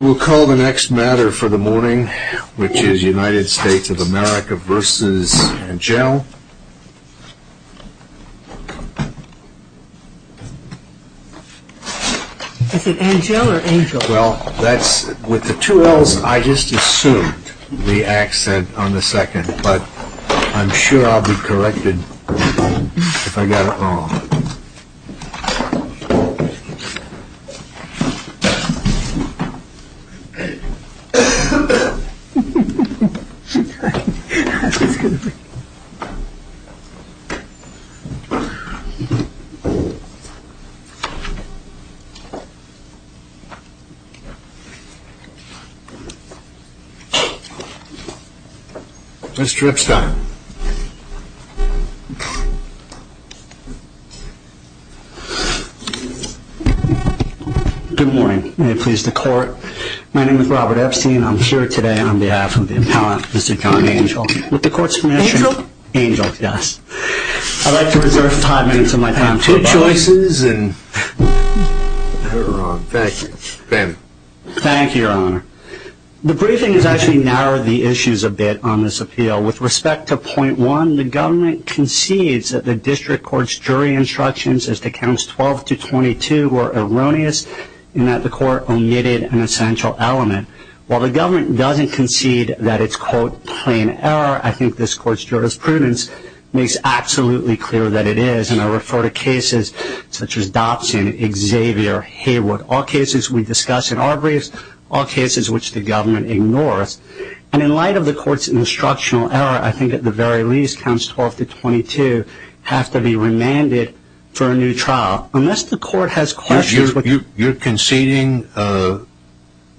We'll call the next matter for the morning, which is United States of America v. Angell. Is it Angell or Angel? Well, that's, with the two L's, I just assumed the accent on the second, but I'm sure I'll be corrected if I got it wrong. I'm sorry. Mr. Epstein. Good morning. May it please the court. My name is Robert Epstein. I'm here today on behalf of the appellant, Mr. John Angell, with the court's permission. Angell? Angell, yes. I'd like to reserve five minutes of my time. I have two choices, and they're wrong. Thank you. Thank you, Your Honor. The briefing has actually narrowed the issues a bit on this appeal. With respect to point one, the government concedes that the district court's jury instructions as to counts 12 to 22 were erroneous, and that the court omitted an essential element. While the government doesn't concede that it's, quote, plain error, I think this court's jurisprudence makes absolutely clear that it is, and I refer to cases such as Dobson, Xavier, Haywood, all cases we discuss in our briefs, all cases which the government ignores. And in light of the court's instructional error, I think at the very least, counts 12 to 22 have to be remanded for a new trial. Unless the court has questions... You're conceding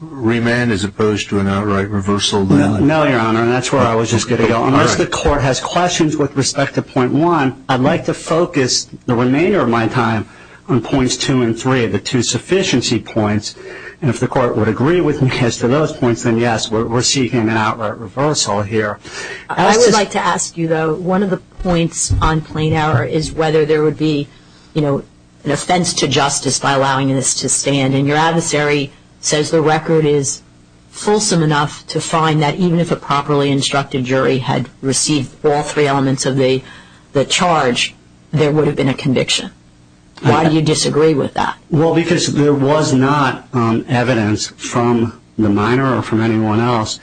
remand as opposed to an outright reversal then? No, Your Honor, and that's where I was just going to go. Unless the court has questions with respect to point one, I'd like to focus the remainder of my time on points two and three, the two sufficiency points, and if the court would agree with me as to those points, then yes, we're seeking an outright reversal here. I would like to ask you, though, one of the points on plain error is whether there would be, you know, an offense to justice by allowing this to stand. And your adversary says the record is fulsome enough to find that even if a properly instructed jury had received all three elements of the charge, there would have been a conviction. Why do you disagree with that? Well, because there was not evidence from the minor or from anyone else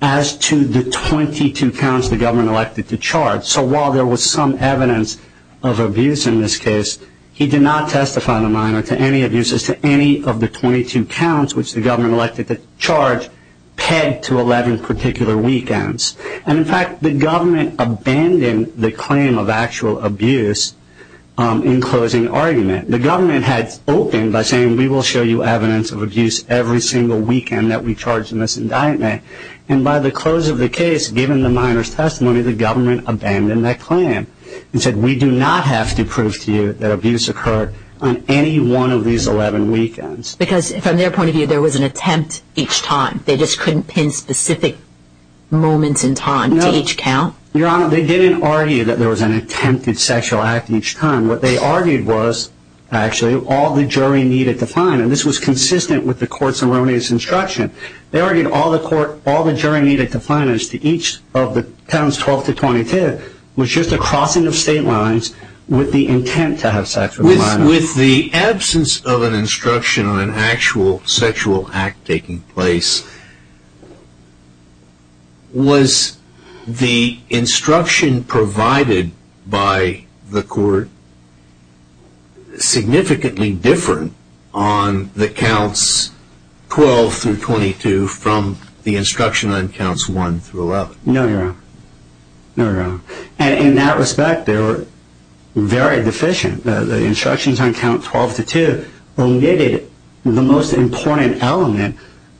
as to the 22 counts the government elected to charge. So while there was some evidence of abuse in this case, he did not testify in the minor to any abuses to any of the 22 counts, which the government elected to charge, pegged to 11 particular weekends. And, in fact, the government abandoned the claim of actual abuse in closing argument. The government had spoken by saying we will show you evidence of abuse every single weekend that we charge in this indictment. And by the close of the case, given the minor's testimony, the government abandoned that claim and said we do not have to prove to you that abuse occurred on any one of these 11 weekends. Because from their point of view, there was an attempt each time. They just couldn't pin specific moments in time to each count. Your Honor, they didn't argue that there was an attempted sexual act each time. What they argued was actually all the jury needed to find, and this was consistent with the court's erroneous instruction. They argued all the jury needed to find each of the counts 12-22 was just a crossing of state lines with the intent to have sex with the minor. With the absence of an instruction on an actual sexual act taking place, was the instruction provided by the court significantly different on the counts 12-22 from the instruction on counts 1-11? No, Your Honor. No, Your Honor. And in that respect, they were very deficient. The instructions on count 12-22 omitted the most important element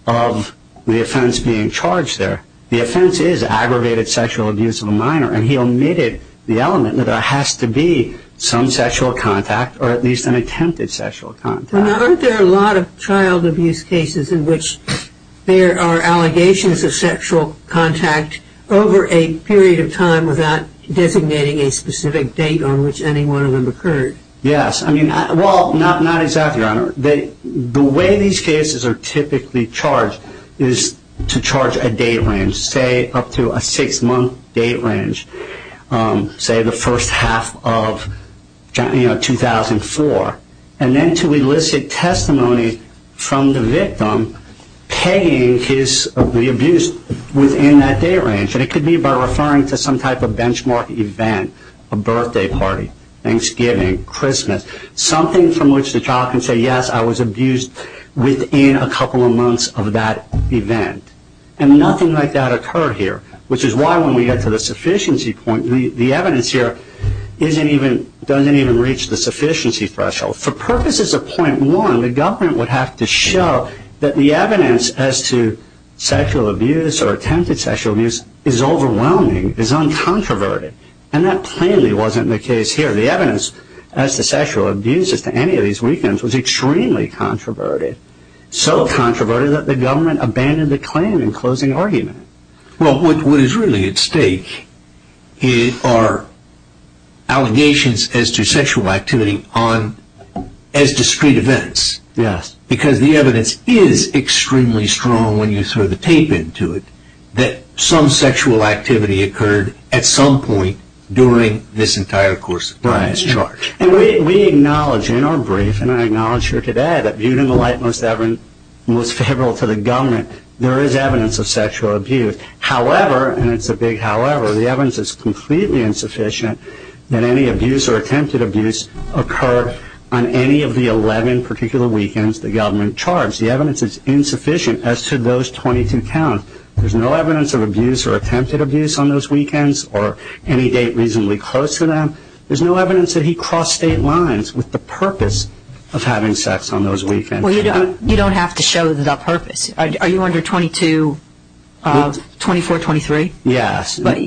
of the offense being charged there. The offense is aggravated sexual abuse of a minor, and he omitted the element that there has to be some sexual contact or at least an attempted sexual contact. Well, now, aren't there a lot of child abuse cases in which there are allegations of sexual contact over a period of time without designating a specific date on which any one of them occurred? Yes. Well, not exactly, Your Honor. The way these cases are typically charged is to charge a date range, say up to a six-month date range, say the first half of 2004, and then to elicit testimony from the victim paying the abuse within that date range. And it could be by referring to some type of benchmark event, a birthday party, Thanksgiving, Christmas, something from which the child can say, yes, I was abused within a couple of months of that event. And nothing like that occurred here, which is why when we get to the sufficiency point, the evidence here doesn't even reach the sufficiency threshold. For purposes of point one, the government would have to show that the evidence as to sexual abuse or attempted sexual abuse is overwhelming, is uncontroverted, and that plainly wasn't the case here. The evidence as to sexual abuse as to any of these weekends was extremely controverted, so controverted that the government abandoned the claim in closing argument. Well, what is really at stake are allegations as to sexual activity as discrete events. Yes. Because the evidence is extremely strong when you throw the tape into it that some sexual activity occurred at some point during this entire course of time. Right. And we acknowledge in our brief, and I acknowledge here today, that viewed in the light most favorable to the government, there is evidence of sexual abuse. However, and it's a big however, the evidence is completely insufficient that any abuse or attempted abuse occurred on any of the 11 particular weekends the government charged. The evidence is insufficient as to those 22 count. There's no evidence of abuse or attempted abuse on those weekends or any date reasonably close to them. There's no evidence that he crossed state lines with the purpose of having sex on those weekends. Well, you don't have to show the purpose. Are you under 22, 24, 23? Yes. But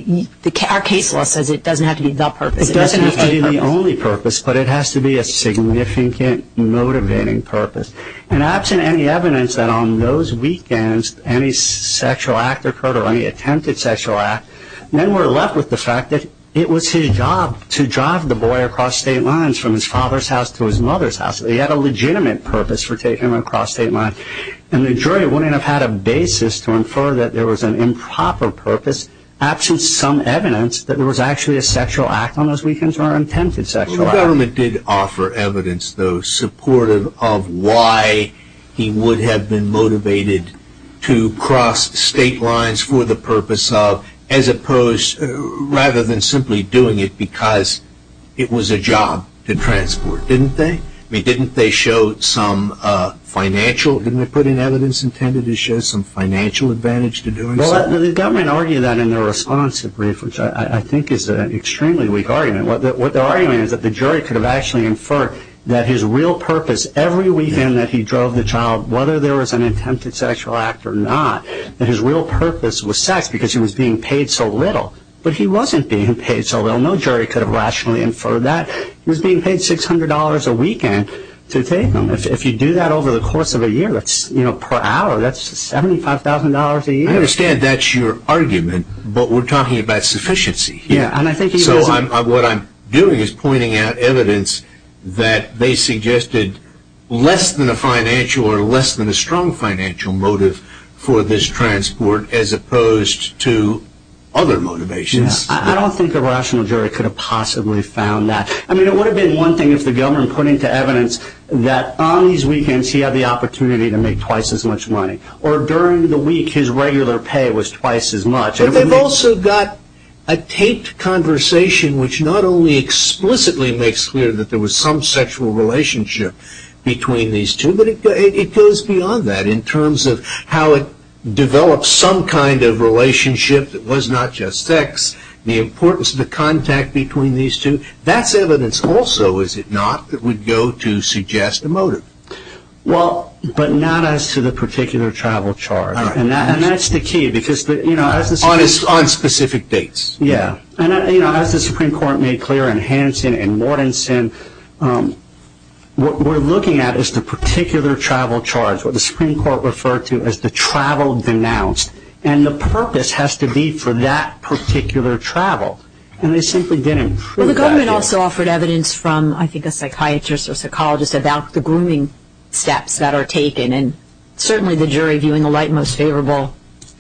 our case law says it doesn't have to be the purpose. It doesn't have to be the only purpose, but it has to be a significant motivating purpose. And absent any evidence that on those weekends any sexual act occurred or any attempted sexual act, then we're left with the fact that it was his job to drive the boy across state lines from his father's house to his mother's house. He had a legitimate purpose for taking him across state lines. And the jury wouldn't have had a basis to infer that there was an improper purpose, absent some evidence that there was actually a sexual act on those weekends or an attempted sexual act. The government did offer evidence, though, of why he would have been motivated to cross state lines for the purpose of, as opposed rather than simply doing it because it was a job to transport. Didn't they? I mean, didn't they show some financial? Didn't they put in evidence intended to show some financial advantage to doing so? Well, the government argued that in their response to the brief, which I think is an extremely weak argument. What they're arguing is that the jury could have actually inferred that his real purpose every weekend that he drove the child, whether there was an attempted sexual act or not, that his real purpose was sex because he was being paid so little. But he wasn't being paid so little. No jury could have rationally inferred that. He was being paid $600 a weekend to take him. If you do that over the course of a year, that's, you know, per hour, that's $75,000 a year. I understand that's your argument, but we're talking about sufficiency. So what I'm doing is pointing out evidence that they suggested less than a financial or less than a strong financial motive for this transport as opposed to other motivations. I don't think a rational jury could have possibly found that. I mean, it would have been one thing if the government put into evidence that on these weekends he had the opportunity to make twice as much money or during the week his regular pay was twice as much. But they've also got a taped conversation which not only explicitly makes clear that there was some sexual relationship between these two, but it goes beyond that in terms of how it develops some kind of relationship that was not just sex, the importance of the contact between these two. That's evidence also, is it not, that would go to suggest a motive? Well, but not as to the particular travel charge. And that's the key because, you know, on specific dates. Yeah. And, you know, as the Supreme Court made clear in Hansen and Mortensen, what we're looking at is the particular travel charge, what the Supreme Court referred to as the travel denounced. And the purpose has to be for that particular travel. And they simply didn't prove that. Well, the government also offered evidence from, I think, a psychiatrist or psychologist about the grooming steps that are taken. And certainly the jury, viewing the light most favorable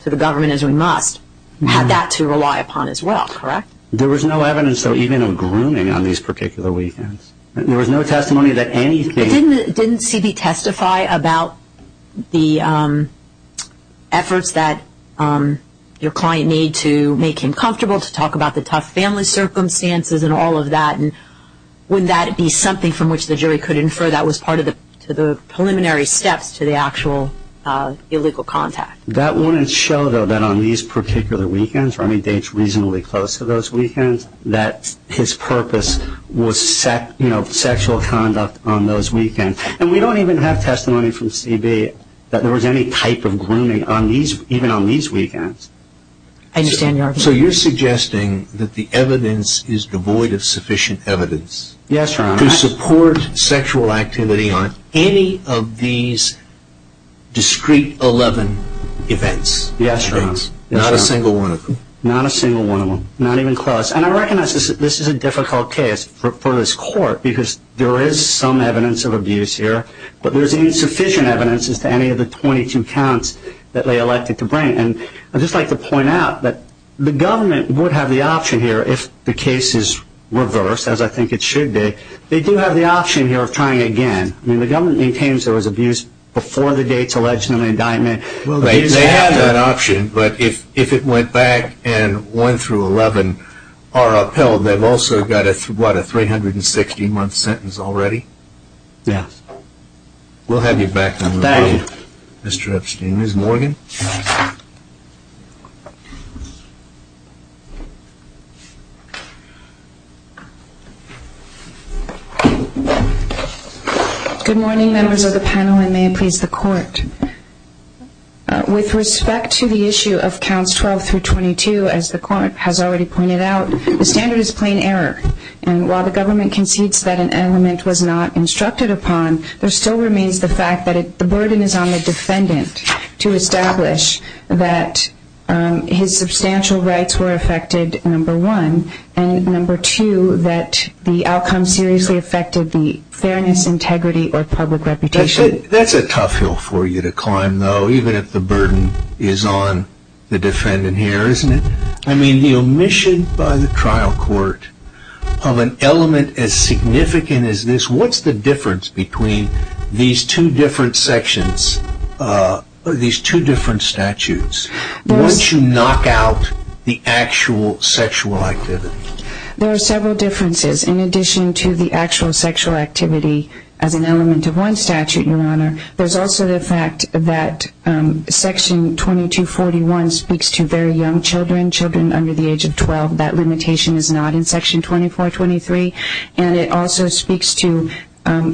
to the government as we must, had that to rely upon as well, correct? There was no evidence, though, even of grooming on these particular weekends. There was no testimony that anything – Didn't CB testify about the efforts that your client made to make him comfortable, to talk about the tough family circumstances and all of that? And would that be something from which the jury could infer that was part of the preliminary steps to the actual illegal contact? That wouldn't show, though, that on these particular weekends, or any dates reasonably close to those weekends, that his purpose was sexual conduct on those weekends. And we don't even have testimony from CB that there was any type of grooming even on these weekends. I understand your argument. So you're suggesting that the evidence is devoid of sufficient evidence? Yes, Your Honor. To support sexual activity on any of these discrete 11 events? Yes, Your Honor. Not a single one of them? Not a single one of them. Not even close. And I recognize this is a difficult case for this court, because there is some evidence of abuse here, but there's insufficient evidence as to any of the 22 counts that they elected to bring. And I'd just like to point out that the government would have the option here, if the case is reversed, as I think it should be, they do have the option here of trying again. I mean, the government maintains there was abuse before the dates alleged in the indictment. They have that option, but if it went back and 1 through 11 are upheld, they've also got, what, a 360-month sentence already? Yes. We'll have you back in a moment. Thank you. Mr. Epstein. Ms. Morgan. Good morning, members of the panel, and may it please the Court. With respect to the issue of counts 12 through 22, as the Court has already pointed out, the standard is plain error. And while the government concedes that an element was not instructed upon, there still remains the fact that the burden is on the defendant to establish that his substantial rights were affected, number one, and number two, that the outcome seriously affected the fairness, integrity, or public reputation. That's a tough hill for you to climb, though, even if the burden is on the defendant here, isn't it? I mean, the omission by the trial court of an element as significant as this, what's the difference between these two different sections, these two different statutes? Why don't you knock out the actual sexual activity? There are several differences. In addition to the actual sexual activity as an element of one statute, Your Honor, there's also the fact that Section 2241 speaks to very young children, children under the age of 12. That limitation is not in Section 2423. And it also speaks to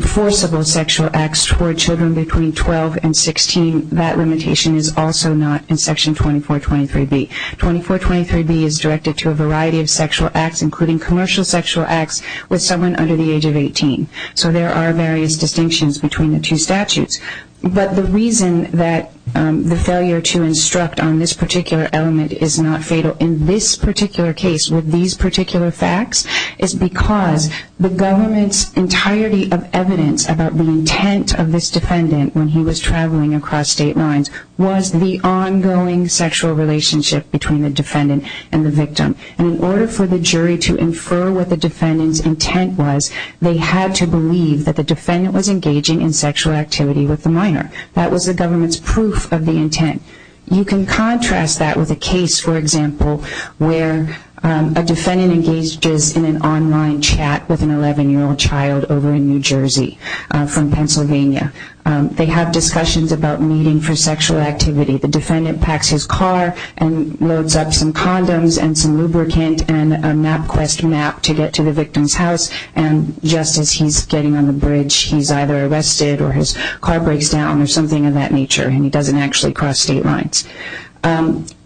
forcible sexual acts toward children between 12 and 16. That limitation is also not in Section 2423B. 2423B is directed to a variety of sexual acts, including commercial sexual acts with someone under the age of 18. So there are various distinctions between the two statutes. But the reason that the failure to instruct on this particular element is not fatal in this particular case with these particular facts is because the government's entirety of evidence about the intent of this defendant when he was traveling across state lines was the ongoing sexual relationship between the defendant and the victim. And in order for the jury to infer what the defendant's intent was, they had to believe that the defendant was engaging in sexual activity with the minor. You can contrast that with a case, for example, where a defendant engages in an online chat with an 11-year-old child over in New Jersey from Pennsylvania. They have discussions about meeting for sexual activity. The defendant packs his car and loads up some condoms and some lubricant and a NapQuest map to get to the victim's house. And just as he's getting on the bridge, he's either arrested or his car breaks down or something of that nature, and he doesn't actually cross state lines.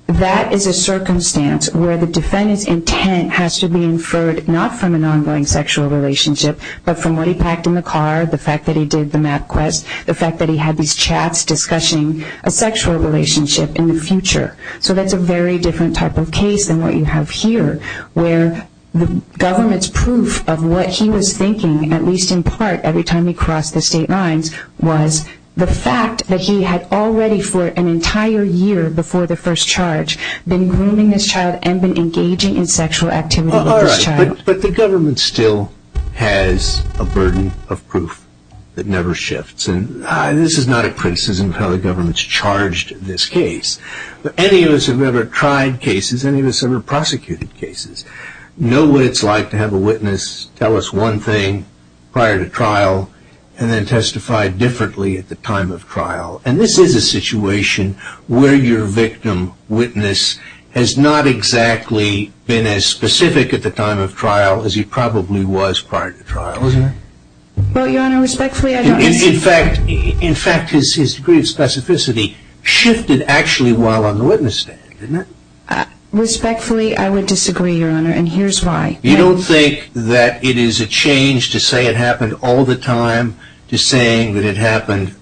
That is a circumstance where the defendant's intent has to be inferred not from an ongoing sexual relationship, but from what he packed in the car, the fact that he did the NapQuest, the fact that he had these chats discussing a sexual relationship in the future. So that's a very different type of case than what you have here, where the government's proof of what he was thinking, at least in part, every time he crossed the state lines was the fact that he had already for an entire year before the first charge been grooming this child and been engaging in sexual activity with this child. All right, but the government still has a burden of proof that never shifts. And this is not a criticism of how the government's charged this case, but any of us who have ever tried cases, any of us who have ever prosecuted cases, know what it's like to have a witness tell us one thing prior to trial and then testify differently at the time of trial. And this is a situation where your victim witness has not exactly been as specific at the time of trial as he probably was prior to trial, isn't it? Well, Your Honor, respectfully, I don't... In fact, his degree of specificity shifted actually while on the witness stand, didn't it? Respectfully, I would disagree, Your Honor, and here's why. You don't think that it is a change to say it happened all the time to saying that it happened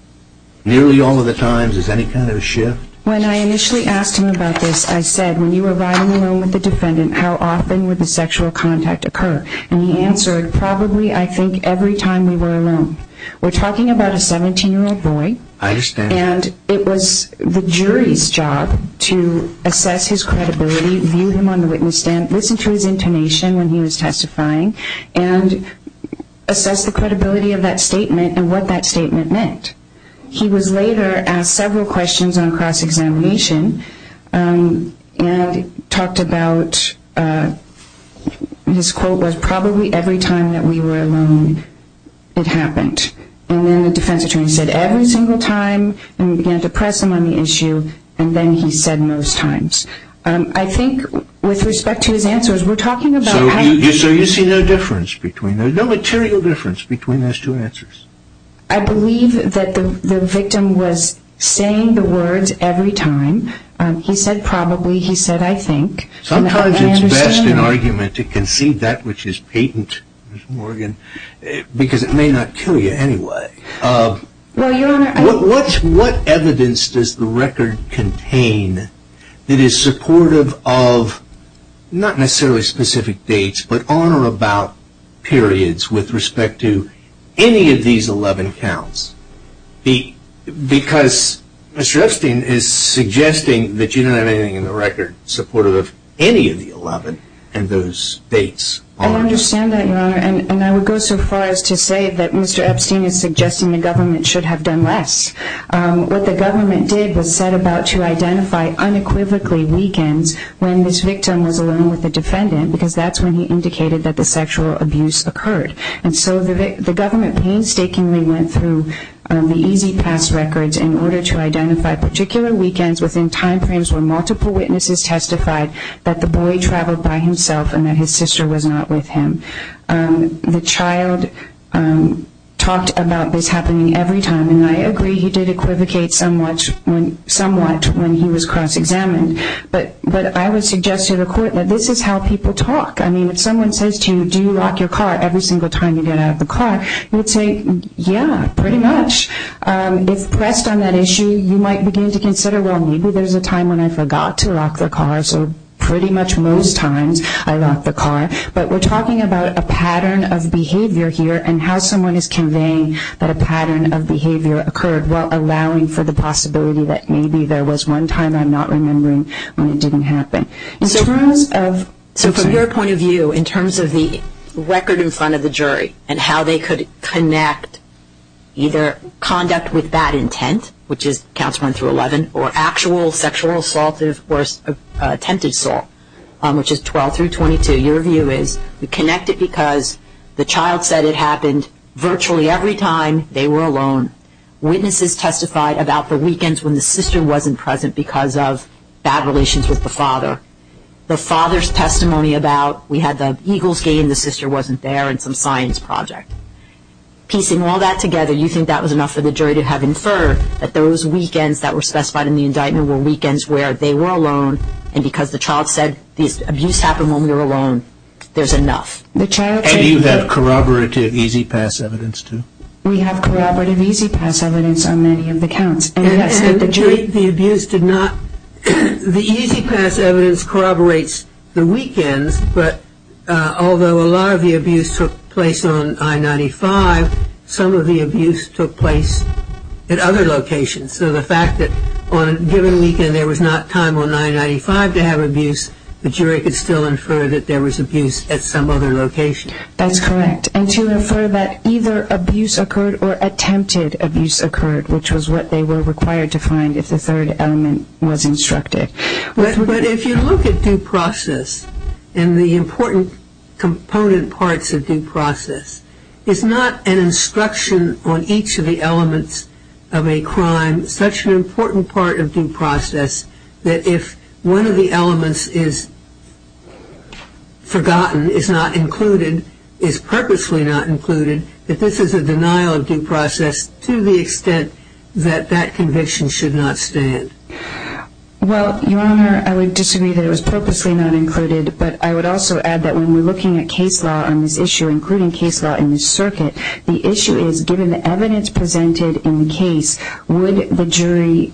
nearly all of the times? Is there any kind of shift? When I initially asked him about this, I said, when you were riding alone with the defendant, how often would the sexual contact occur? And he answered, probably, I think, every time we were alone. We're talking about a 17-year-old boy. I understand. And it was the jury's job to assess his credibility, view him on the witness stand, listen to his intonation when he was testifying, and assess the credibility of that statement and what that statement meant. He was later asked several questions on cross-examination and talked about... His quote was, probably every time that we were alone, it happened. And then the defense attorney said, every single time, and we began to press him on the issue, and then he said most times. I think with respect to his answers, we're talking about... So you see no difference between them, no material difference between those two answers? I believe that the victim was saying the words every time. He said, probably. He said, I think. Sometimes it's best in argument to concede that which is patent, Ms. Morgan, because it may not kill you anyway. Well, Your Honor, I... What evidence does the record contain that is supportive of, not necessarily specific dates, but on or about periods with respect to any of these 11 counts? Because Mr. Epstein is suggesting that you don't have anything in the record supportive of any of the 11 and those dates aren't. I understand that, Your Honor, and I would go so far as to say that Mr. Epstein is suggesting the government should have done less. What the government did was set about to identify unequivocally weekends when this victim was alone with the defendant, because that's when he indicated that the sexual abuse occurred. And so the government painstakingly went through the EZ Pass records in order to identify particular weekends within timeframes where multiple witnesses testified that the boy traveled by himself and that his sister was not with him. The child talked about this happening every time, and I agree he did equivocate somewhat when he was cross-examined. But I would suggest to the court that this is how people talk. I mean, if someone says to you, do you lock your car every single time you get out of the car, you would say, yeah, pretty much. If pressed on that issue, you might begin to consider, well, maybe there's a time when I forgot to lock the car, so pretty much most times I lock the car. But we're talking about a pattern of behavior here and how someone is conveying that a pattern of behavior occurred while allowing for the possibility that maybe there was one time I'm not remembering when it didn't happen. So from your point of view, in terms of the record in front of the jury and how they could connect either conduct with bad intent, which is counts 1 through 11, or actual sexual assault or attempted assault, which is 12 through 22, your view is we connect it because the child said it happened virtually every time they were alone. Witnesses testified about the weekends when the sister wasn't present because of bad relations with the father. The father's testimony about we had the Eagles game, the sister wasn't there, and some science project. Piecing all that together, so you think that was enough for the jury to have inferred that those weekends that were specified in the indictment were weekends where they were alone, and because the child said the abuse happened when we were alone, there's enough. Do you have corroborative E-ZPass evidence, too? We have corroborative E-ZPass evidence on many of the counts. The E-ZPass evidence corroborates the weekends, but although a lot of the abuse took place on I-95, some of the abuse took place at other locations, so the fact that on a given weekend there was not time on I-95 to have abuse, the jury could still infer that there was abuse at some other location. That's correct, and to infer that either abuse occurred or attempted abuse occurred, which was what they were required to find if the third element was instructed. But if you look at due process and the important component parts of due process, is not an instruction on each of the elements of a crime such an important part of due process that if one of the elements is forgotten, is not included, is purposely not included, that this is a denial of due process to the extent that that conviction should not stand? Well, Your Honor, I would disagree that it was purposely not included, but I would also add that when we're looking at case law on this issue, including case law in this circuit, the issue is given the evidence presented in the case, would the jury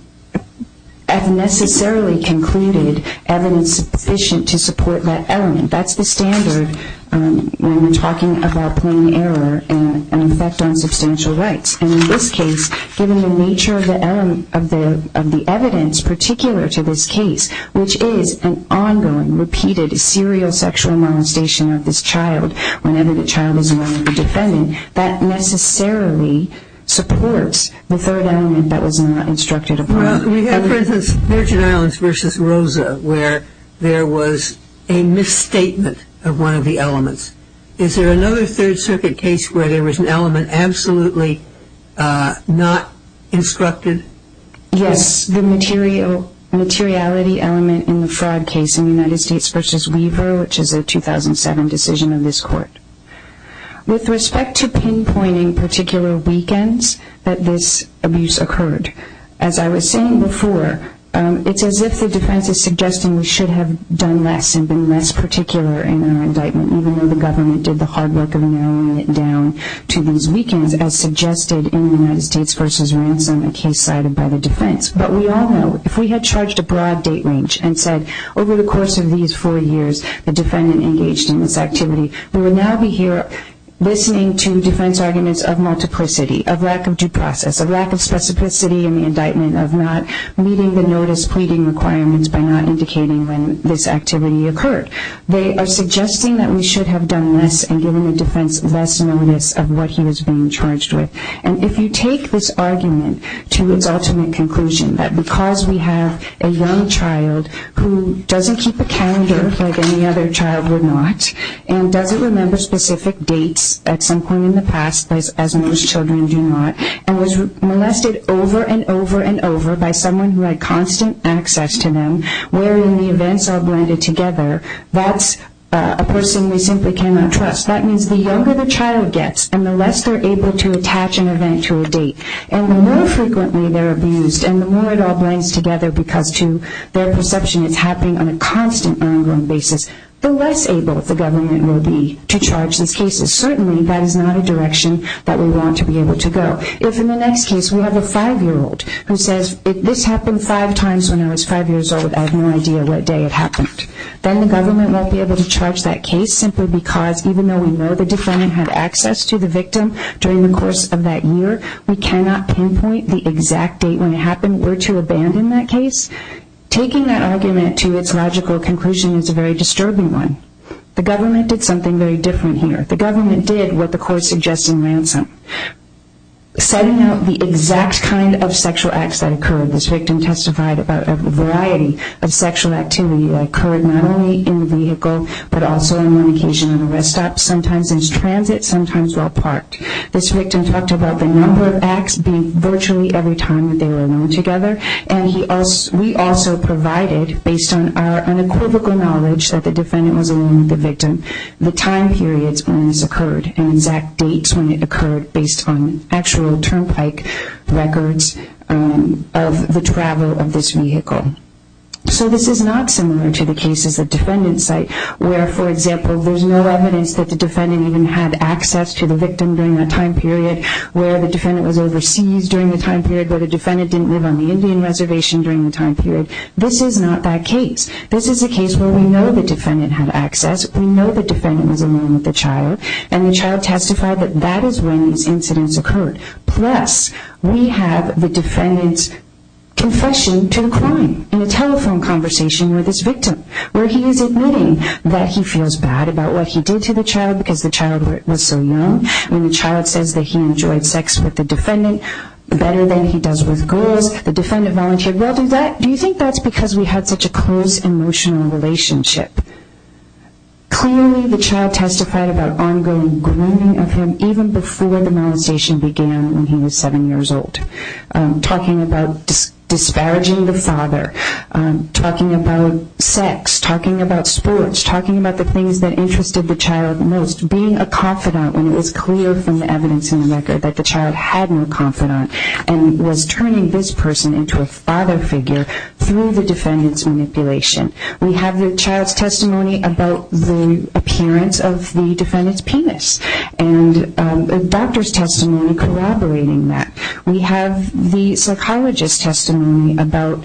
have necessarily concluded evidence sufficient to support that element? That's the standard when we're talking about plain error and an effect on substantial rights. And in this case, given the nature of the evidence particular to this case, which is an ongoing, repeated, serial sexual molestation of this child whenever the child is wanted for defending, that necessarily supports the third element that was not instructed upon. Well, we have, for instance, Virgin Islands v. Rosa, where there was a misstatement of one of the elements. Is there another Third Circuit case where there was an element absolutely not instructed? Yes, the materiality element in the fraud case in United States v. Weaver, which is a 2007 decision of this Court. With respect to pinpointing particular weekends that this abuse occurred, as I was saying before, it's as if the defense is suggesting we should have done less and been less particular in our indictment, even though the government did the hard work of narrowing it down to these weekends, as suggested in United States v. Ransom, a case cited by the defense. But we all know if we had charged a broad date range and said, over the course of these four years the defendant engaged in this activity, we would now be here listening to defense arguments of multiplicity, of lack of due process, of lack of specificity in the indictment, of not meeting the notice pleading requirements by not indicating when this activity occurred. They are suggesting that we should have done less and given the defense less notice of what he was being charged with. And if you take this argument to its ultimate conclusion, that because we have a young child who doesn't keep a calendar like any other child would not and doesn't remember specific dates at some point in the past, as most children do not, and was molested over and over and over by someone who had constant access to them, wherein the events are blended together, that's a person we simply cannot trust. That means the younger the child gets and the less they're able to attach an event to a date, and the more frequently they're abused and the more it all blends together because to their perception it's happening on a constant and ongoing basis, the less able the government will be to charge these cases. Certainly that is not a direction that we want to be able to go. If in the next case we have a five-year-old who says, if this happened five times when I was five years old, I have no idea what day it happened, then the government won't be able to charge that case simply because, even though we know the defendant had access to the victim during the course of that year, we cannot pinpoint the exact date when it happened or to abandon that case. Taking that argument to its logical conclusion is a very disturbing one. The government did something very different here. The government did what the court suggested in Ransom. Setting out the exact kind of sexual acts that occurred, this victim testified about a variety of sexual activity that occurred not only in the vehicle, but also on one occasion in a rest stop, sometimes in transit, sometimes while parked. This victim talked about the number of acts being virtually every time that they were alone together, and we also provided, based on our unequivocal knowledge that the defendant was alone with the victim, the time periods when this occurred and exact dates when it occurred, based on actual turnpike records of the travel of this vehicle. So this is not similar to the cases at defendant's site where, for example, there's no evidence that the defendant even had access to the victim during that time period, where the defendant was overseas during the time period, where the defendant didn't live on the Indian Reservation during the time period. This is not that case. This is a case where we know the defendant had access. We know the defendant was alone with the child, and the child testified that that is when these incidents occurred. Plus, we have the defendant's confession to the crime in a telephone conversation with this victim, where he is admitting that he feels bad about what he did to the child because the child was so young. When the child says that he enjoyed sex with the defendant better than he does with girls, the defendant volunteered, well, do you think that's because we had such a close emotional relationship? Clearly, the child testified about ongoing grooming of him, even before the molestation began when he was seven years old, talking about disparaging the father, talking about sex, talking about sports, talking about the things that interested the child most, being a confidant when it was clear from the evidence in the record that the child had no confidant, and was turning this person into a father figure through the defendant's manipulation. We have the child's testimony about the appearance of the defendant's penis, and a doctor's testimony corroborating that. We have the psychologist's testimony about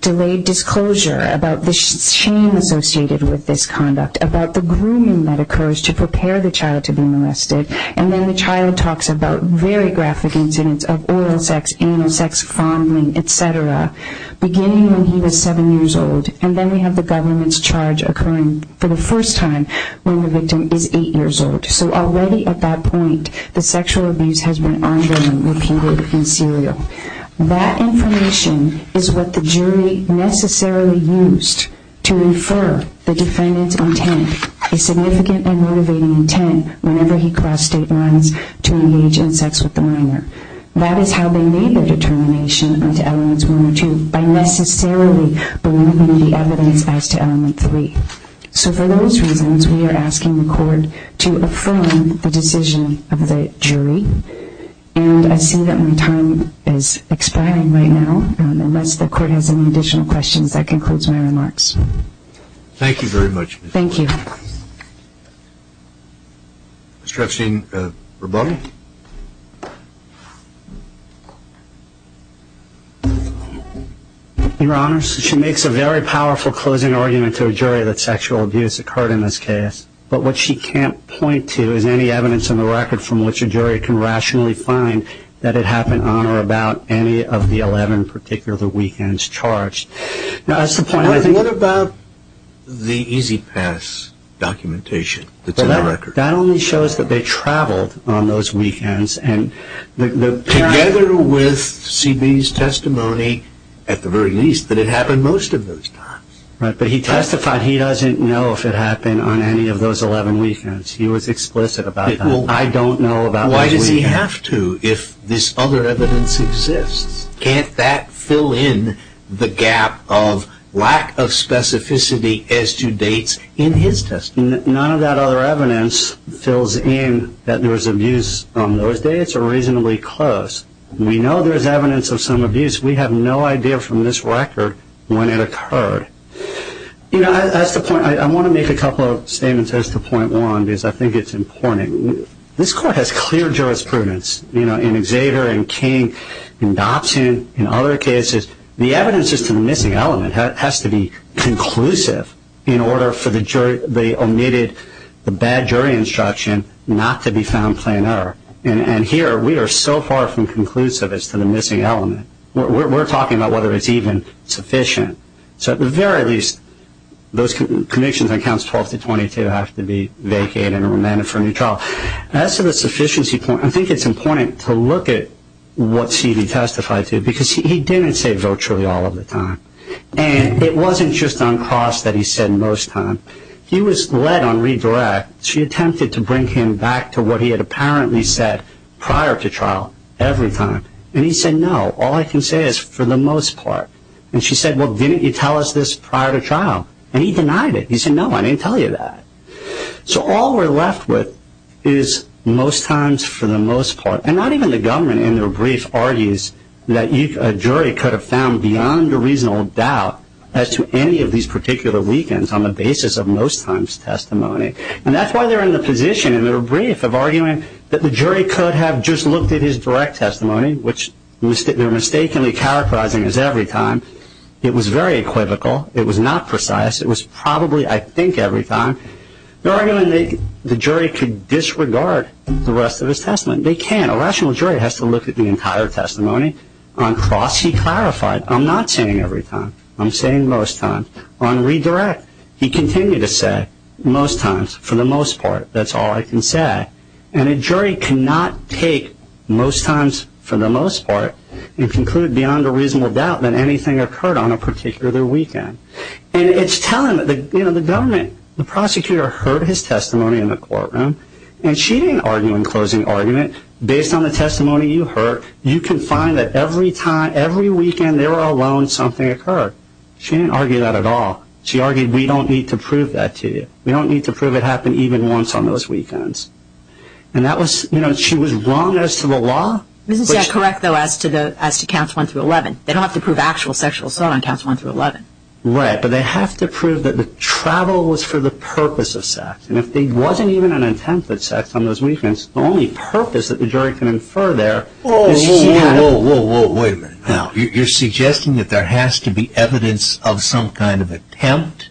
delayed disclosure, about the shame associated with this conduct, about the grooming that occurs to prepare the child to be molested, and then the child talks about very graphic incidents of oral sex, anal sex, fondling, et cetera, beginning when he was seven years old, and then we have the government's charge occurring for the first time when the victim is eight years old. So already at that point, the sexual abuse has been ongoing, repeated, and serial. That information is what the jury necessarily used to infer the defendant's intent, a significant and motivating intent whenever he crossed state lines to engage in sex with the minor. That is how they made their determination into elements one and two, by necessarily believing the evidence as to element three. So for those reasons, we are asking the court to affirm the decision of the jury, and I see that my time is expiring right now, unless the court has any additional questions. That concludes my remarks. Thank you very much. Thank you. Mr. Epstein, rebuttal. Your Honor, she makes a very powerful closing argument to a jury that sexual abuse occurred in this case, but what she can't point to is any evidence in the record from which a jury can rationally find that it happened on or about any of the 11 particular weekends charged. What about the Easy Pass documentation that's in the record? That only shows that they traveled on those weekends. Together with C.B.'s testimony, at the very least, that it happened most of those times. Right, but he testified he doesn't know if it happened on any of those 11 weekends. He was explicit about that. I don't know about those weekends. Why does he have to if this other evidence exists? Can't that fill in the gap of lack of specificity as to dates in his testimony? None of that other evidence fills in that there was abuse on those dates, or reasonably close. We know there's evidence of some abuse. We have no idea from this record when it occurred. You know, I want to make a couple of statements as to point one, because I think it's important. This Court has clear jurisprudence in Xavier and King and Dobson and other cases. The evidence as to the missing element has to be conclusive in order for the omitted bad jury instruction not to be found plainer. And here we are so far from conclusive as to the missing element. We're talking about whether it's even sufficient. So at the very least, those convictions on counts 12 to 22 have to be vacated and remanded for a new trial. As to the sufficiency point, I think it's important to look at what C.D. testified to because he didn't say virtually all of the time. And it wasn't just on cost that he said most of the time. He was led on redirect. She attempted to bring him back to what he had apparently said prior to trial every time. And he said, no, all I can say is for the most part. And she said, well, didn't you tell us this prior to trial? And he denied it. He said, no, I didn't tell you that. So all we're left with is most times for the most part. And not even the government in their brief argues that a jury could have found beyond a reasonable doubt as to any of these particular weakens on the basis of most times testimony. And that's why they're in the position in their brief of arguing that the jury could have just looked at his direct testimony, which they're mistakenly characterizing as every time. It was very equivocal. It was not precise. It was probably, I think, every time. They're arguing that the jury could disregard the rest of his testimony. They can't. A rational jury has to look at the entire testimony. On cost, he clarified. I'm not saying every time. I'm saying most times. On redirect, he continued to say most times for the most part. That's all I can say. And a jury cannot take most times for the most part and conclude beyond a reasonable doubt that anything occurred on a particular weekend. And it's telling that the government, the prosecutor heard his testimony in the courtroom, and she didn't argue in closing argument, based on the testimony you heard, you can find that every time, every weekend they were alone, something occurred. She didn't argue that at all. She argued we don't need to prove that to you. We don't need to prove it happened even once on those weekends. And that was, you know, she was wrong as to the law. This is correct, though, as to counts 1 through 11. They don't have to prove actual sexual assault on counts 1 through 11. Right, but they have to prove that the travel was for the purpose of sex. And if there wasn't even an attempt at sex on those weekends, the only purpose that the jury can infer there is she had it. Whoa, whoa, whoa. Wait a minute. Now, you're suggesting that there has to be evidence of some kind of attempt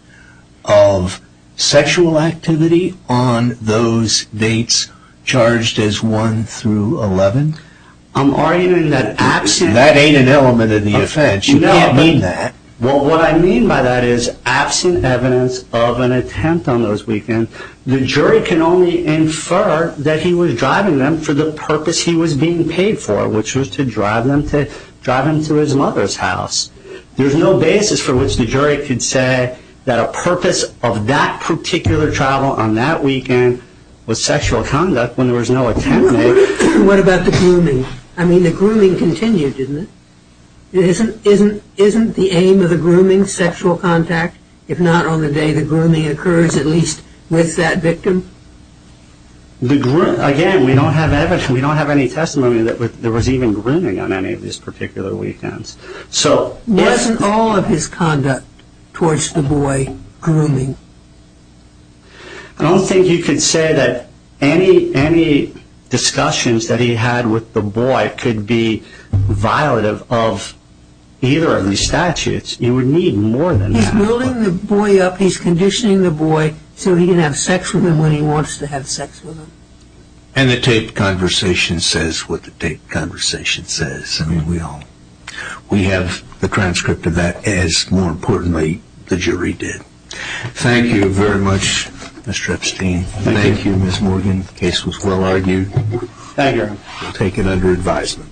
of sexual activity on those dates charged as 1 through 11? I'm arguing that absent... That ain't an element of the offense. You can't mean that. Well, what I mean by that is absent evidence of an attempt on those weekends, the jury can only infer that he was driving them for the purpose he was being paid for, which was to drive them to his mother's house. There's no basis for which the jury could say that a purpose of that particular travel on that weekend was sexual conduct when there was no attempt made. What about the grooming? I mean, the grooming continued, didn't it? Isn't the aim of the grooming sexual contact? If not on the day the grooming occurs, at least with that victim? Again, we don't have evidence. We don't have any testimony that there was even grooming on any of these particular weekends. Wasn't all of his conduct towards the boy grooming? I don't think you could say that any discussions that he had with the boy could be violative of either of these statutes. You would need more than that. He's building the boy up. He's conditioning the boy so he can have sex with him when he wants to have sex with him. And the taped conversation says what the taped conversation says. I mean, we have the transcript of that as, more importantly, the jury did. Thank you very much, Mr. Epstein. Thank you, Ms. Morgan. The case was well argued. Thank you. We'll take it under advisement.